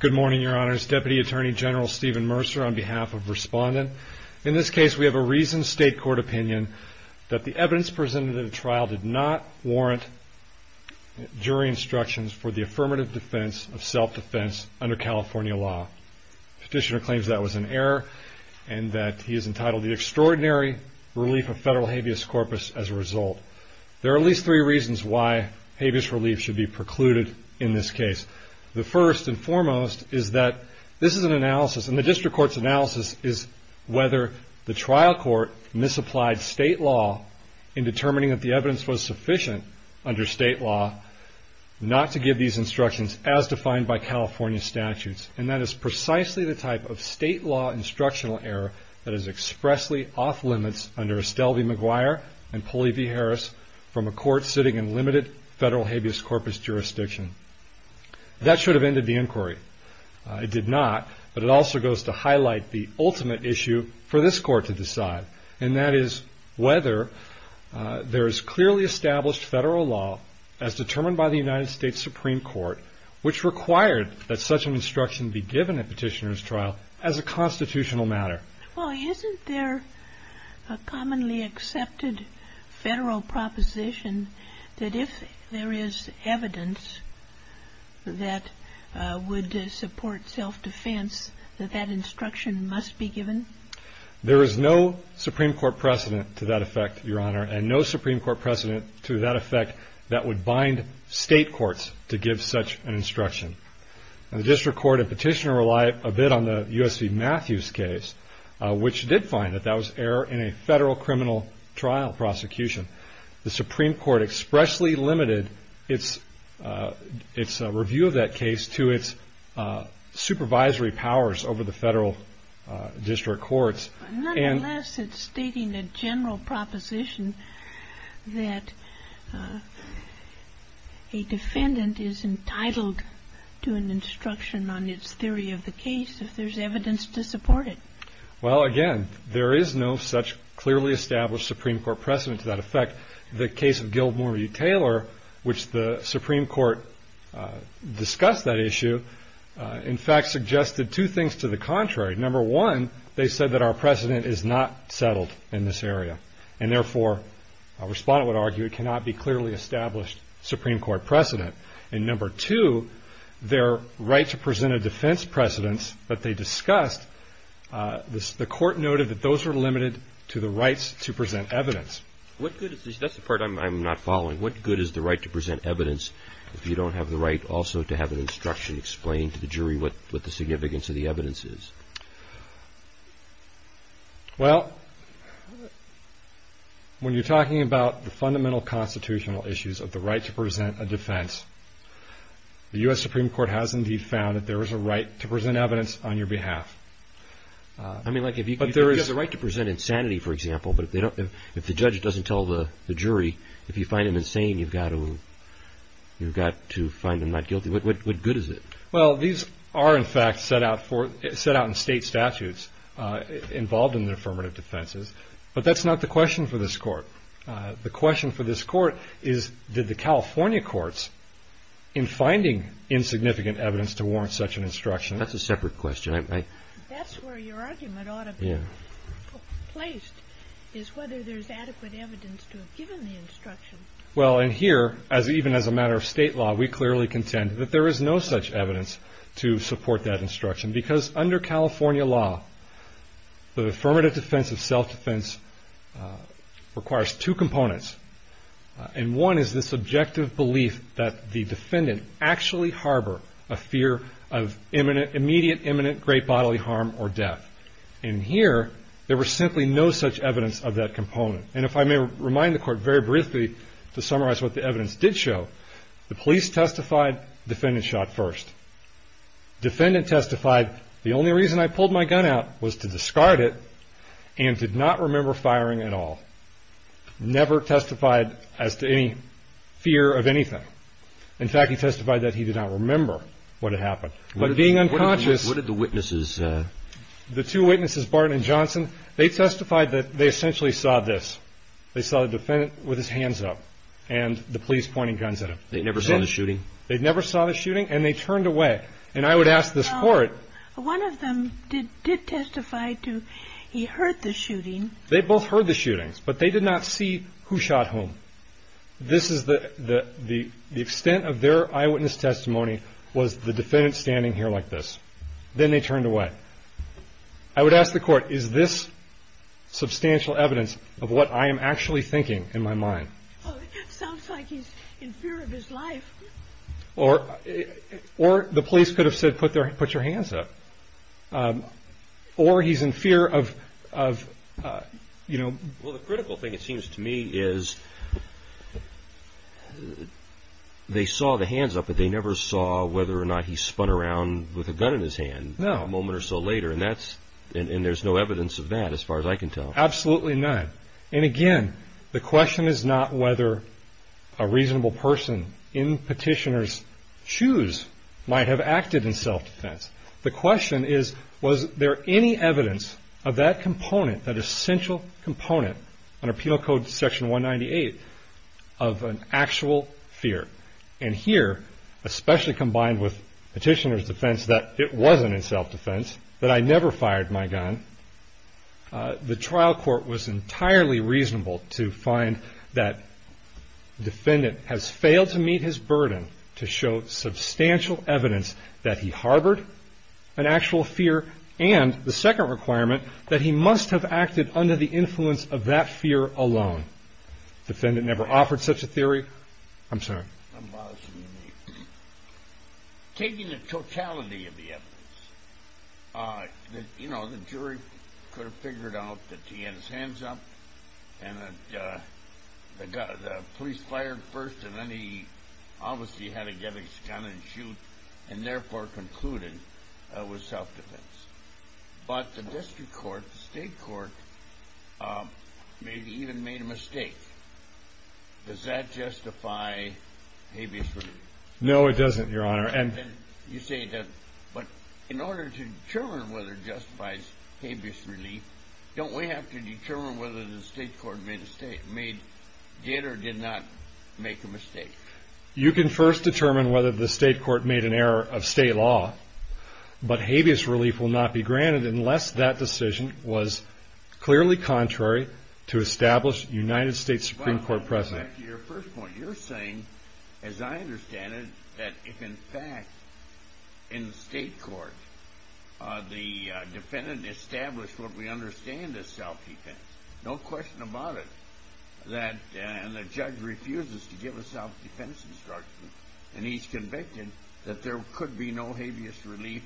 Good morning, Your Honors. Deputy Attorney General Steven Mercer, on behalf of Respondent. In this case we have a reasoned state court opinion that the evidence presented in the trial did not warrant jury instructions for the affirmative defense of self-defense under California law. Petitioner claims that was an error and that he is entitled to the extraordinary relief of federal habeas corpus as a result. There are at least three reasons why habeas relief should be precluded in this case. The first and foremost is that this is an analysis and the district court's analysis is whether the trial court misapplied state law in determining that the evidence was sufficient under state law not to give these instructions as defined by California statutes. And that is precisely the type of state law instructional error that is expressly off limits under Estelle v. McGuire and Pulley v. Harris from a court sitting in limited federal habeas corpus jurisdiction. That should have ended the inquiry. It did not but it also goes to highlight the ultimate issue for this court to decide and that is whether there is clearly established federal law as determined by the United States Supreme Court which required that such an instruction be given at Petitioner's trial as a constitutional matter. Well isn't there a commonly accepted federal proposition that if there is evidence that would support self-defense that that instruction must be given? There is no Supreme Court precedent to that effect, Your Honor, and no Supreme Court precedent to that effect that would bind state courts to give such an instruction. The district court at Petitioner relied a bit on the U.S. v. Matthews case which did find that that was error in a federal criminal trial prosecution. The Supreme Court expressly limited its review of that case to its supervisory powers over the federal district courts. Nonetheless, it's stating a general proposition that a defendant is entitled to an instruction on its theory of the case if there's evidence to support it. Well again, there is no such clearly established Supreme Court precedent to that effect. The case of Gilmore v. Taylor which the Supreme Court discussed that issue in fact suggested two things to the contrary. Number one, they said that our precedent is not settled in this area and therefore a respondent would argue it cannot be clearly established Supreme Court precedent. And number two, their right to present a defense precedence that they discussed, the court noted that those were limited to the rights to present evidence. That's the part I'm not following. What good is the right to present evidence if you don't have the right also to have an instruction explained to the jury what the significance of the evidence is? Well, when you're talking about the fundamental constitutional issues of the right to present a defense, the U.S. Supreme Court has indeed found that there is a right to present evidence on your behalf. I mean like if you could just... But there is a right to present insanity for example, but if the judge doesn't tell the jury, if you find him insane, you've got to find him not guilty. What good is it? Well, these are in fact set out in state statutes involved in the affirmative defenses, but that's not the question for this court. The question for this court is did the California courts in finding insignificant evidence to warrant such an instruction... That's a separate question. That's where your argument ought to be placed is whether there's adequate evidence to have given the instruction. Well, in here, even as a matter of state law, we clearly contend that there is no such evidence to support that instruction because under California law, the affirmative defense of the defendant actually harbor a fear of immediate imminent great bodily harm or death. In here, there was simply no such evidence of that component. And if I may remind the court very briefly to summarize what the evidence did show, the police testified, defendant shot first. Defendant testified, the only reason I pulled my gun out was to discard it and did not remember firing at all. Never testified as to any fear of anything. In fact, he testified that he did not remember what had happened. But being unconscious... What did the witnesses... The two witnesses, Barton and Johnson, they testified that they essentially saw this. They saw the defendant with his hands up and the police pointing guns at him. They never saw the shooting? They never saw the shooting and they turned away. And I would ask this court... One of them did testify to he heard the shooting. They both heard the shootings, but they did not see who shot whom. The extent of their eyewitness testimony was the defendant standing here like this. Then they turned away. I would ask the court, is this substantial evidence of what I am actually thinking in my mind? It sounds like he's in fear of his life. Or the police could have said, put your hands up. Or he's in fear of... The critical thing, it seems to me, is they saw the hands up, but they never saw whether or not he spun around with a gun in his hand a moment or so later. And there's no evidence of that as far as I can tell. Absolutely none. And again, the question is not whether a reasonable person in Petitioner's shoes might have acted in self-defense. The question is, was there any evidence of that component, that essential component under Penal Code Section 198 of an actual fear? And here, especially combined with Petitioner's defense that it wasn't in self-defense, that the trial court was entirely reasonable to find that the defendant has failed to meet his burden to show substantial evidence that he harbored an actual fear, and the second requirement that he must have acted under the influence of that fear alone. The defendant never offered such a theory. I'm sorry. I'm bothering you, Nate. Taking the totality of the evidence, you know, the jury could have figured out that he had his hands up, and the police fired first, and then he obviously had to get his gun and shoot, and therefore concluded it was self-defense. But the district court, the state court, maybe even made a mistake. Does that justify habeas relief? No, it doesn't, Your Honor. You say it doesn't, but in order to determine whether it justifies habeas relief, don't we have to determine whether the state court did or did not make a mistake? You can first determine whether the state court made an error of state law, but habeas relief will not be granted unless that decision was clearly contrary to established United States Supreme Court precedent. Well, to go back to your first point, you're saying, as I understand it, that if in fact in the state court the defendant established what we understand as self-defense, no question about it, and the judge refuses to give a self-defense instruction, and he's convicted that there could be no habeas relief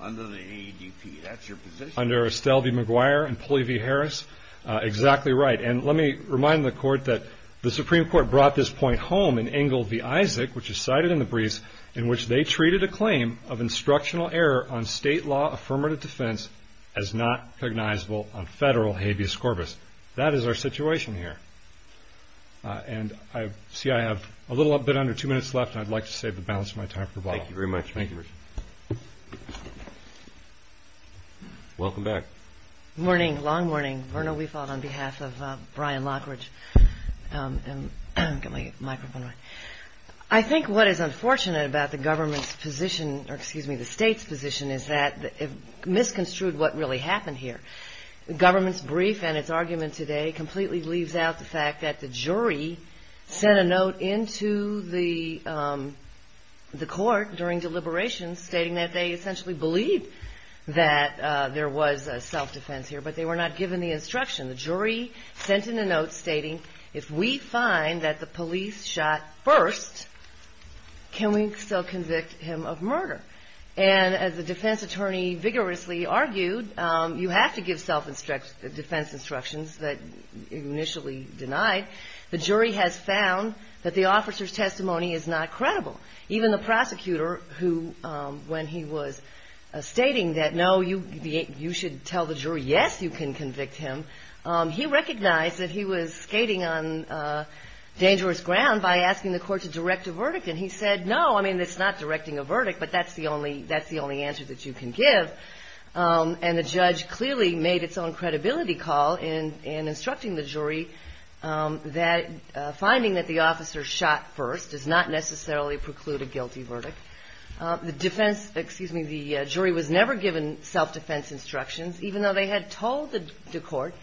under the AEDP. That's your position? Under Estelle v. McGuire and Pulley v. Harris, exactly right. And let me remind the court that the Supreme Court brought this point home in Engle v. Isaac, which is cited in the briefs, in which they treated a claim of instructional error on state law affirmative defense as not cognizable on federal habeas corpus. That is our situation here. And I see I have a little bit under two minutes left, and I'd like to save the balance of my time for Bob. Thank you very much. Thank you, Richard. Welcome back. Good morning. Long morning. Verna Weefald on behalf of Brian Lockridge. I think what is unfortunate about the government's position, or excuse me, the state's position, is that it misconstrued what really happened here. The government's brief and its argument today completely leaves out the fact that the jury sent a note into the court during deliberations stating that they essentially believed that there was self-defense here, but they were not given the instruction. The jury sent in a note stating, if we find that the police shot first, can we still convict him of murder? And as the defense attorney vigorously argued, you have to give self-defense instructions that initially denied. The jury has found that the officer's testimony is not credible. Even the prosecutor who, when he was stating that, no, you should tell the jury, yes, you can convict him, he recognized that he was skating on dangerous ground by asking the court to direct a verdict. And he said, no, I mean, it's not directing a verdict, but that's the only answer that you can give. And the judge clearly made its own credibility call in instructing the jury that finding that the officer shot first does not necessarily preclude a guilty verdict. The defense, excuse me, the jury was never given self-defense instructions, even though they had told the court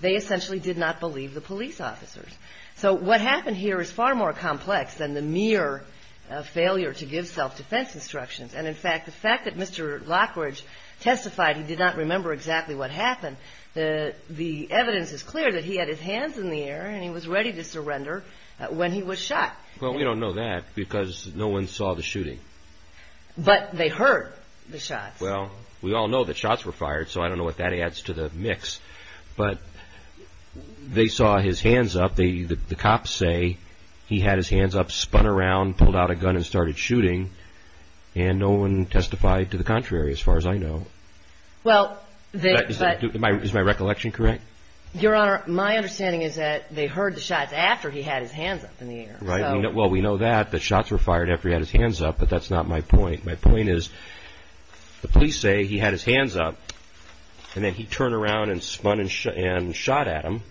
they essentially did not believe the police officers. So what happened here is far more complex than the mere failure to give self-defense instructions. And in fact, the fact that Mr. Lockridge testified he did not remember exactly what happened, the evidence is clear that he had his hands in the air and he was ready to surrender when he was shot. Well, we don't know that because no one saw the shooting. But they heard the shots. Well, we all know that shots were fired, so I don't know what that adds to the mix. But they saw his hands up. The cops say he had his hands up, spun around, pulled out a gun and started shooting. And no one testified to the contrary, as far as I know. Is my recollection correct? Your Honor, my understanding is that they heard the shots after he had his hands up in the air. Right. Well, we know that, that shots were fired after he had his hands up, but that's not my point. My point is the police say he had his hands up, and then he turned around and spun and shot at him.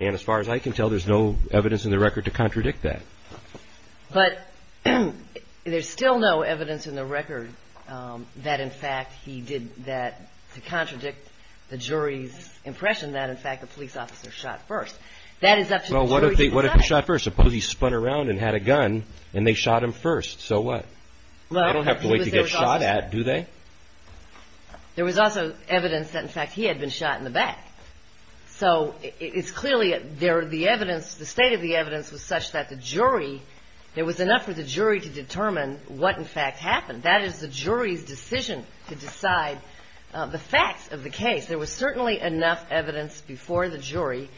And as far as I can tell, there's no evidence in the record to contradict that. But there's still no evidence in the record that, in fact, he did that to contradict the jury's impression that, in fact, the police officer shot first. Well, what if he shot first? Suppose he spun around and had a gun and they shot him first. So what? They don't have to wait to get shot at, do they? There was also evidence that, in fact, he had been shot in the back. So it's clearly there, the evidence, the state of the evidence was such that the jury, there was enough for the jury to determine what, in fact, happened. That is the jury's decision to decide the facts of the case. There was certainly enough evidence before the jury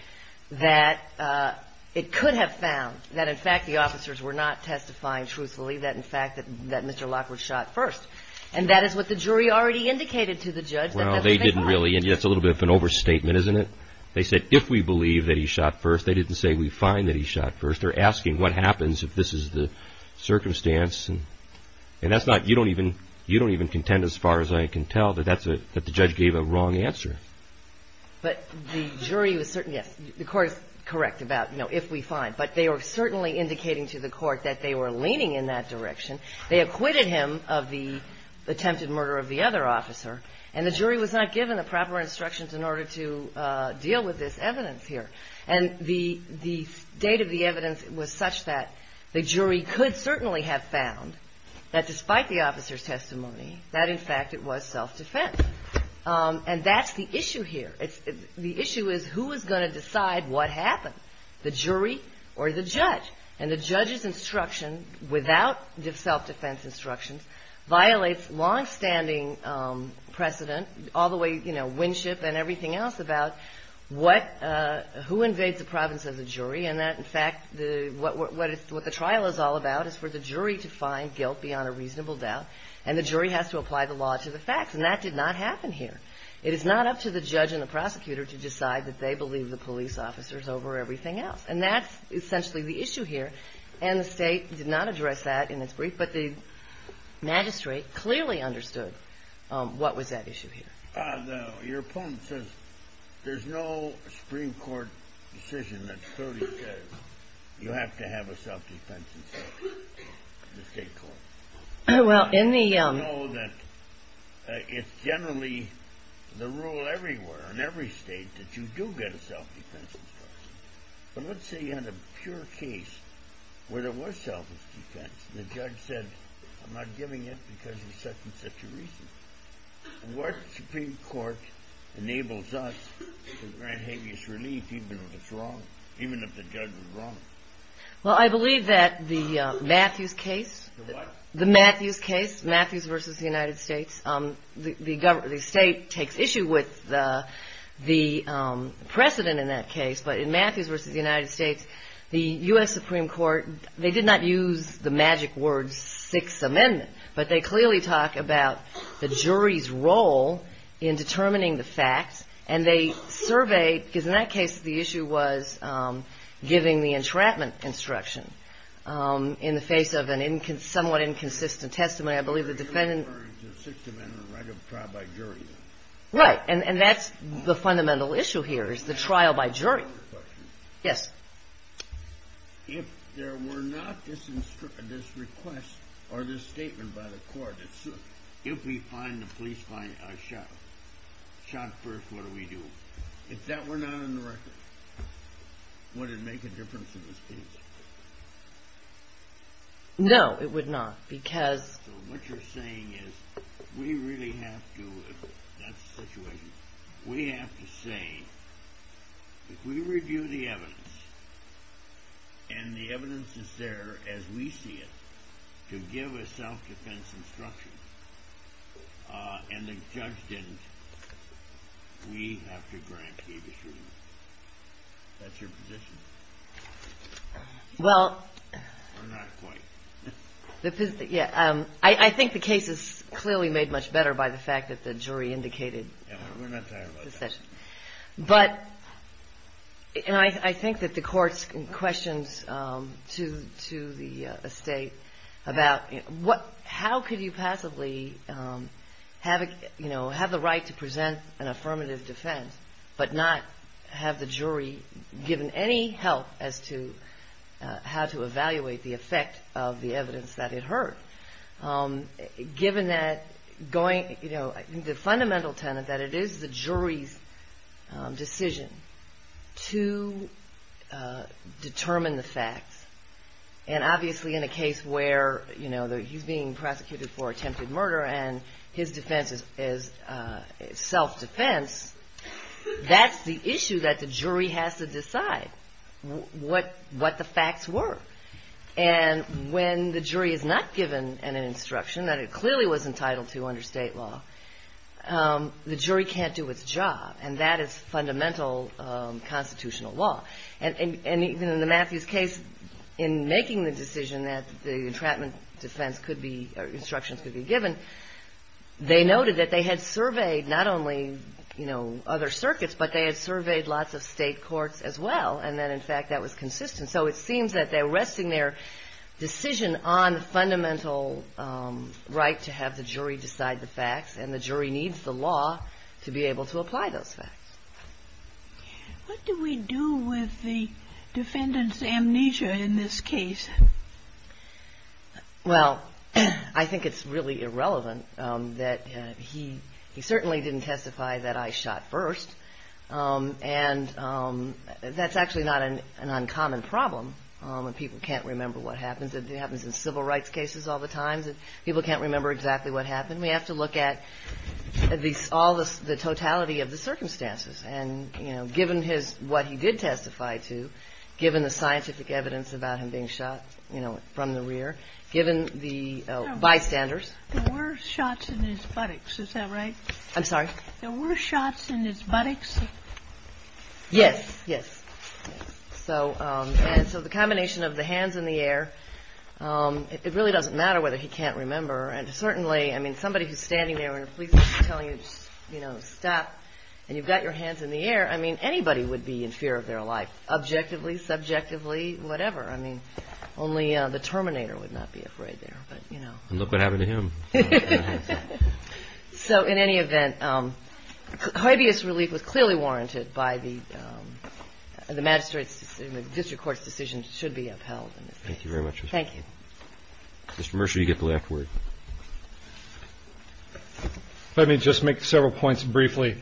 that it could have found that, in fact, the officers were not testifying truthfully, that, in fact, that Mr. Lockwood shot first. And that is what the jury already indicated to the judge. Well, they didn't really, and that's a little bit of an overstatement, isn't it? They said, if we believe that he shot first, they didn't say we find that he shot first. They're asking what happens if this is the circumstance. And that's not, you don't even contend, as far as I can tell, that that's a, that the judge gave a wrong answer. But the jury was certain, yes, the court is correct about, you know, if we find. But they were certainly indicating to the court that they were leaning in that direction. They acquitted him of the attempted murder of the other officer. And the jury was not given the proper instructions in order to deal with this evidence here. And the state of the evidence was such that the jury could certainly have found that, despite the officer's testimony, that, in fact, it was self-defense. And that's the issue here. The issue is who is going to decide what happened, the jury or the judge. And the judge's instruction, without self-defense instructions, violates longstanding precedent, all the way, you know, Winship and everything else about what, who invades the province of the jury. And that, in fact, what the trial is all about is for the jury to find guilt beyond a reasonable doubt. And the jury has to apply the law to the facts. And that did not happen here. It is not up to the judge and the prosecutor to decide that they believe the police officer is over everything else. And that's essentially the issue here. And the state did not address that in its brief. But the magistrate clearly understood what was at issue here. Your opponent says there's no Supreme Court decision that clearly says you have to have a self-defense instruction in the state court. Well, in the... I know that it's generally the rule everywhere, in every state, that you do get a self-defense instruction. But let's say you had a pure case where there was self-defense. The judge said, I'm not giving it because of such and such a reason. What Supreme Court enables us to grant habeas relief, even if it's wrong, even if the judge was wrong? Well, I believe that the Matthews case... The what? The Matthews case, Matthews versus the United States. The state takes issue with the precedent in that case. But in Matthews versus the United States, the U.S. Supreme Court, they did not use the magic word Sixth Amendment. But they clearly talk about the jury's role in determining the facts. And they surveyed, because in that case, the issue was giving the entrapment instruction in the face of a somewhat inconsistent testimony. I believe the defendant... Sixth Amendment right of trial by jury. Right. And that's the fundamental issue here, is the trial by jury. I have another question. Yes. If there were not this request or this statement by the court, if we find the police shot first, what do we do? If that were not on the record, would it make a difference in this case? No, it would not, because... So what you're saying is, we really have to... That's the situation. We have to say, if we review the evidence, and the evidence is there as we see it, to give a self-defense instruction, and the judge didn't, we have to grant the district. That's your position? Well... Or not quite. Yeah. I think the case is clearly made much better by the fact that the jury indicated... Yeah, we're not tired about that. But, and I think that the court's questions to the estate about what, how could you possibly have, you know, have the right to present an affirmative defense, but not have the jury given any help as to how to evaluate the effect of the evidence that it heard. Given that going, you know, the fundamental tenet that it is the jury's decision to determine the facts, and obviously in a case where, you know, he's being prosecuted for attempted murder and his defense is self-defense, that's the issue that the jury has to decide, what the facts were. And when the jury is not given an instruction that it clearly was entitled to under state law, the jury can't do its job, and that is fundamental constitutional law. And even in the Matthews case, in making the decision that the entrapment defense could be, or instructions could be given, they noted that they had surveyed not only, you know, other circuits, but they had surveyed lots of state courts as well, and that, in fact, that was consistent. So it seems that they're resting their decision on the fundamental right to have the jury decide the facts, and the jury needs the law to be able to apply those facts. What do we do with the defendant's amnesia in this case? Well, I think it's really irrelevant that he certainly didn't testify that I shot first, and that's actually not an uncommon problem when people can't remember what happens. It happens in civil rights cases all the time that people can't remember exactly what happened. We have to look at all the totality of the circumstances, and, you know, given what he did testify to, given the scientific evidence about him being shot, you know, from the rear, given the bystanders. There were shots in his buttocks, is that right? I'm sorry? There were shots in his buttocks? Yes, yes. And so the combination of the hands in the air, it really doesn't matter whether he can't remember, and certainly, I mean, somebody who's standing there and a police officer telling you, you know, stop, and you've got your hands in the air, I mean, anybody would be in fear of their life, objectively, subjectively, whatever. I mean, only the Terminator would not be afraid there, but, you know. And look what happened to him. So in any event, hideous relief was clearly warranted by the magistrates, and the district court's decision should be upheld in this case. Thank you very much. Thank you. Mr. Mercer, you get the last word. Let me just make several points briefly.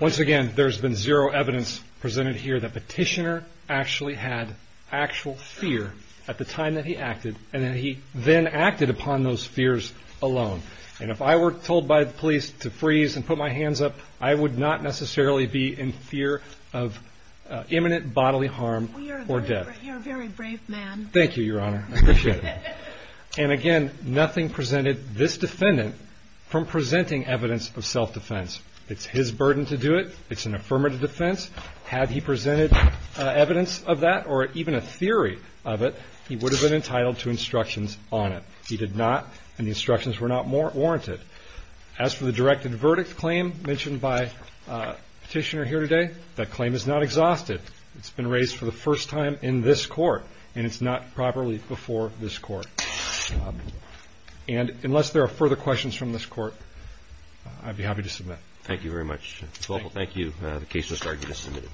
Once again, there's been zero evidence presented here that Petitioner actually had actual fear at the time that he acted, and that he then acted upon those fears alone. And if I were told by the police to freeze and put my hands up, I would not necessarily be in fear of imminent bodily harm or death. You're a very brave man. Thank you, Your Honor. I appreciate it. And again, nothing presented this defendant from presenting evidence of self-defense. It's his burden to do it. It's an affirmative defense. Had he presented evidence of that or even a theory of it, he would have been entitled to instructions on it. He did not, and the instructions were not warranted. As for the directed verdict claim mentioned by Petitioner here today, that claim is not exhausted. It's been raised for the first time in this court, and it's not properly before this court. And unless there are further questions from this court, I'd be happy to submit. Thank you very much. Thank you. The case has now been submitted.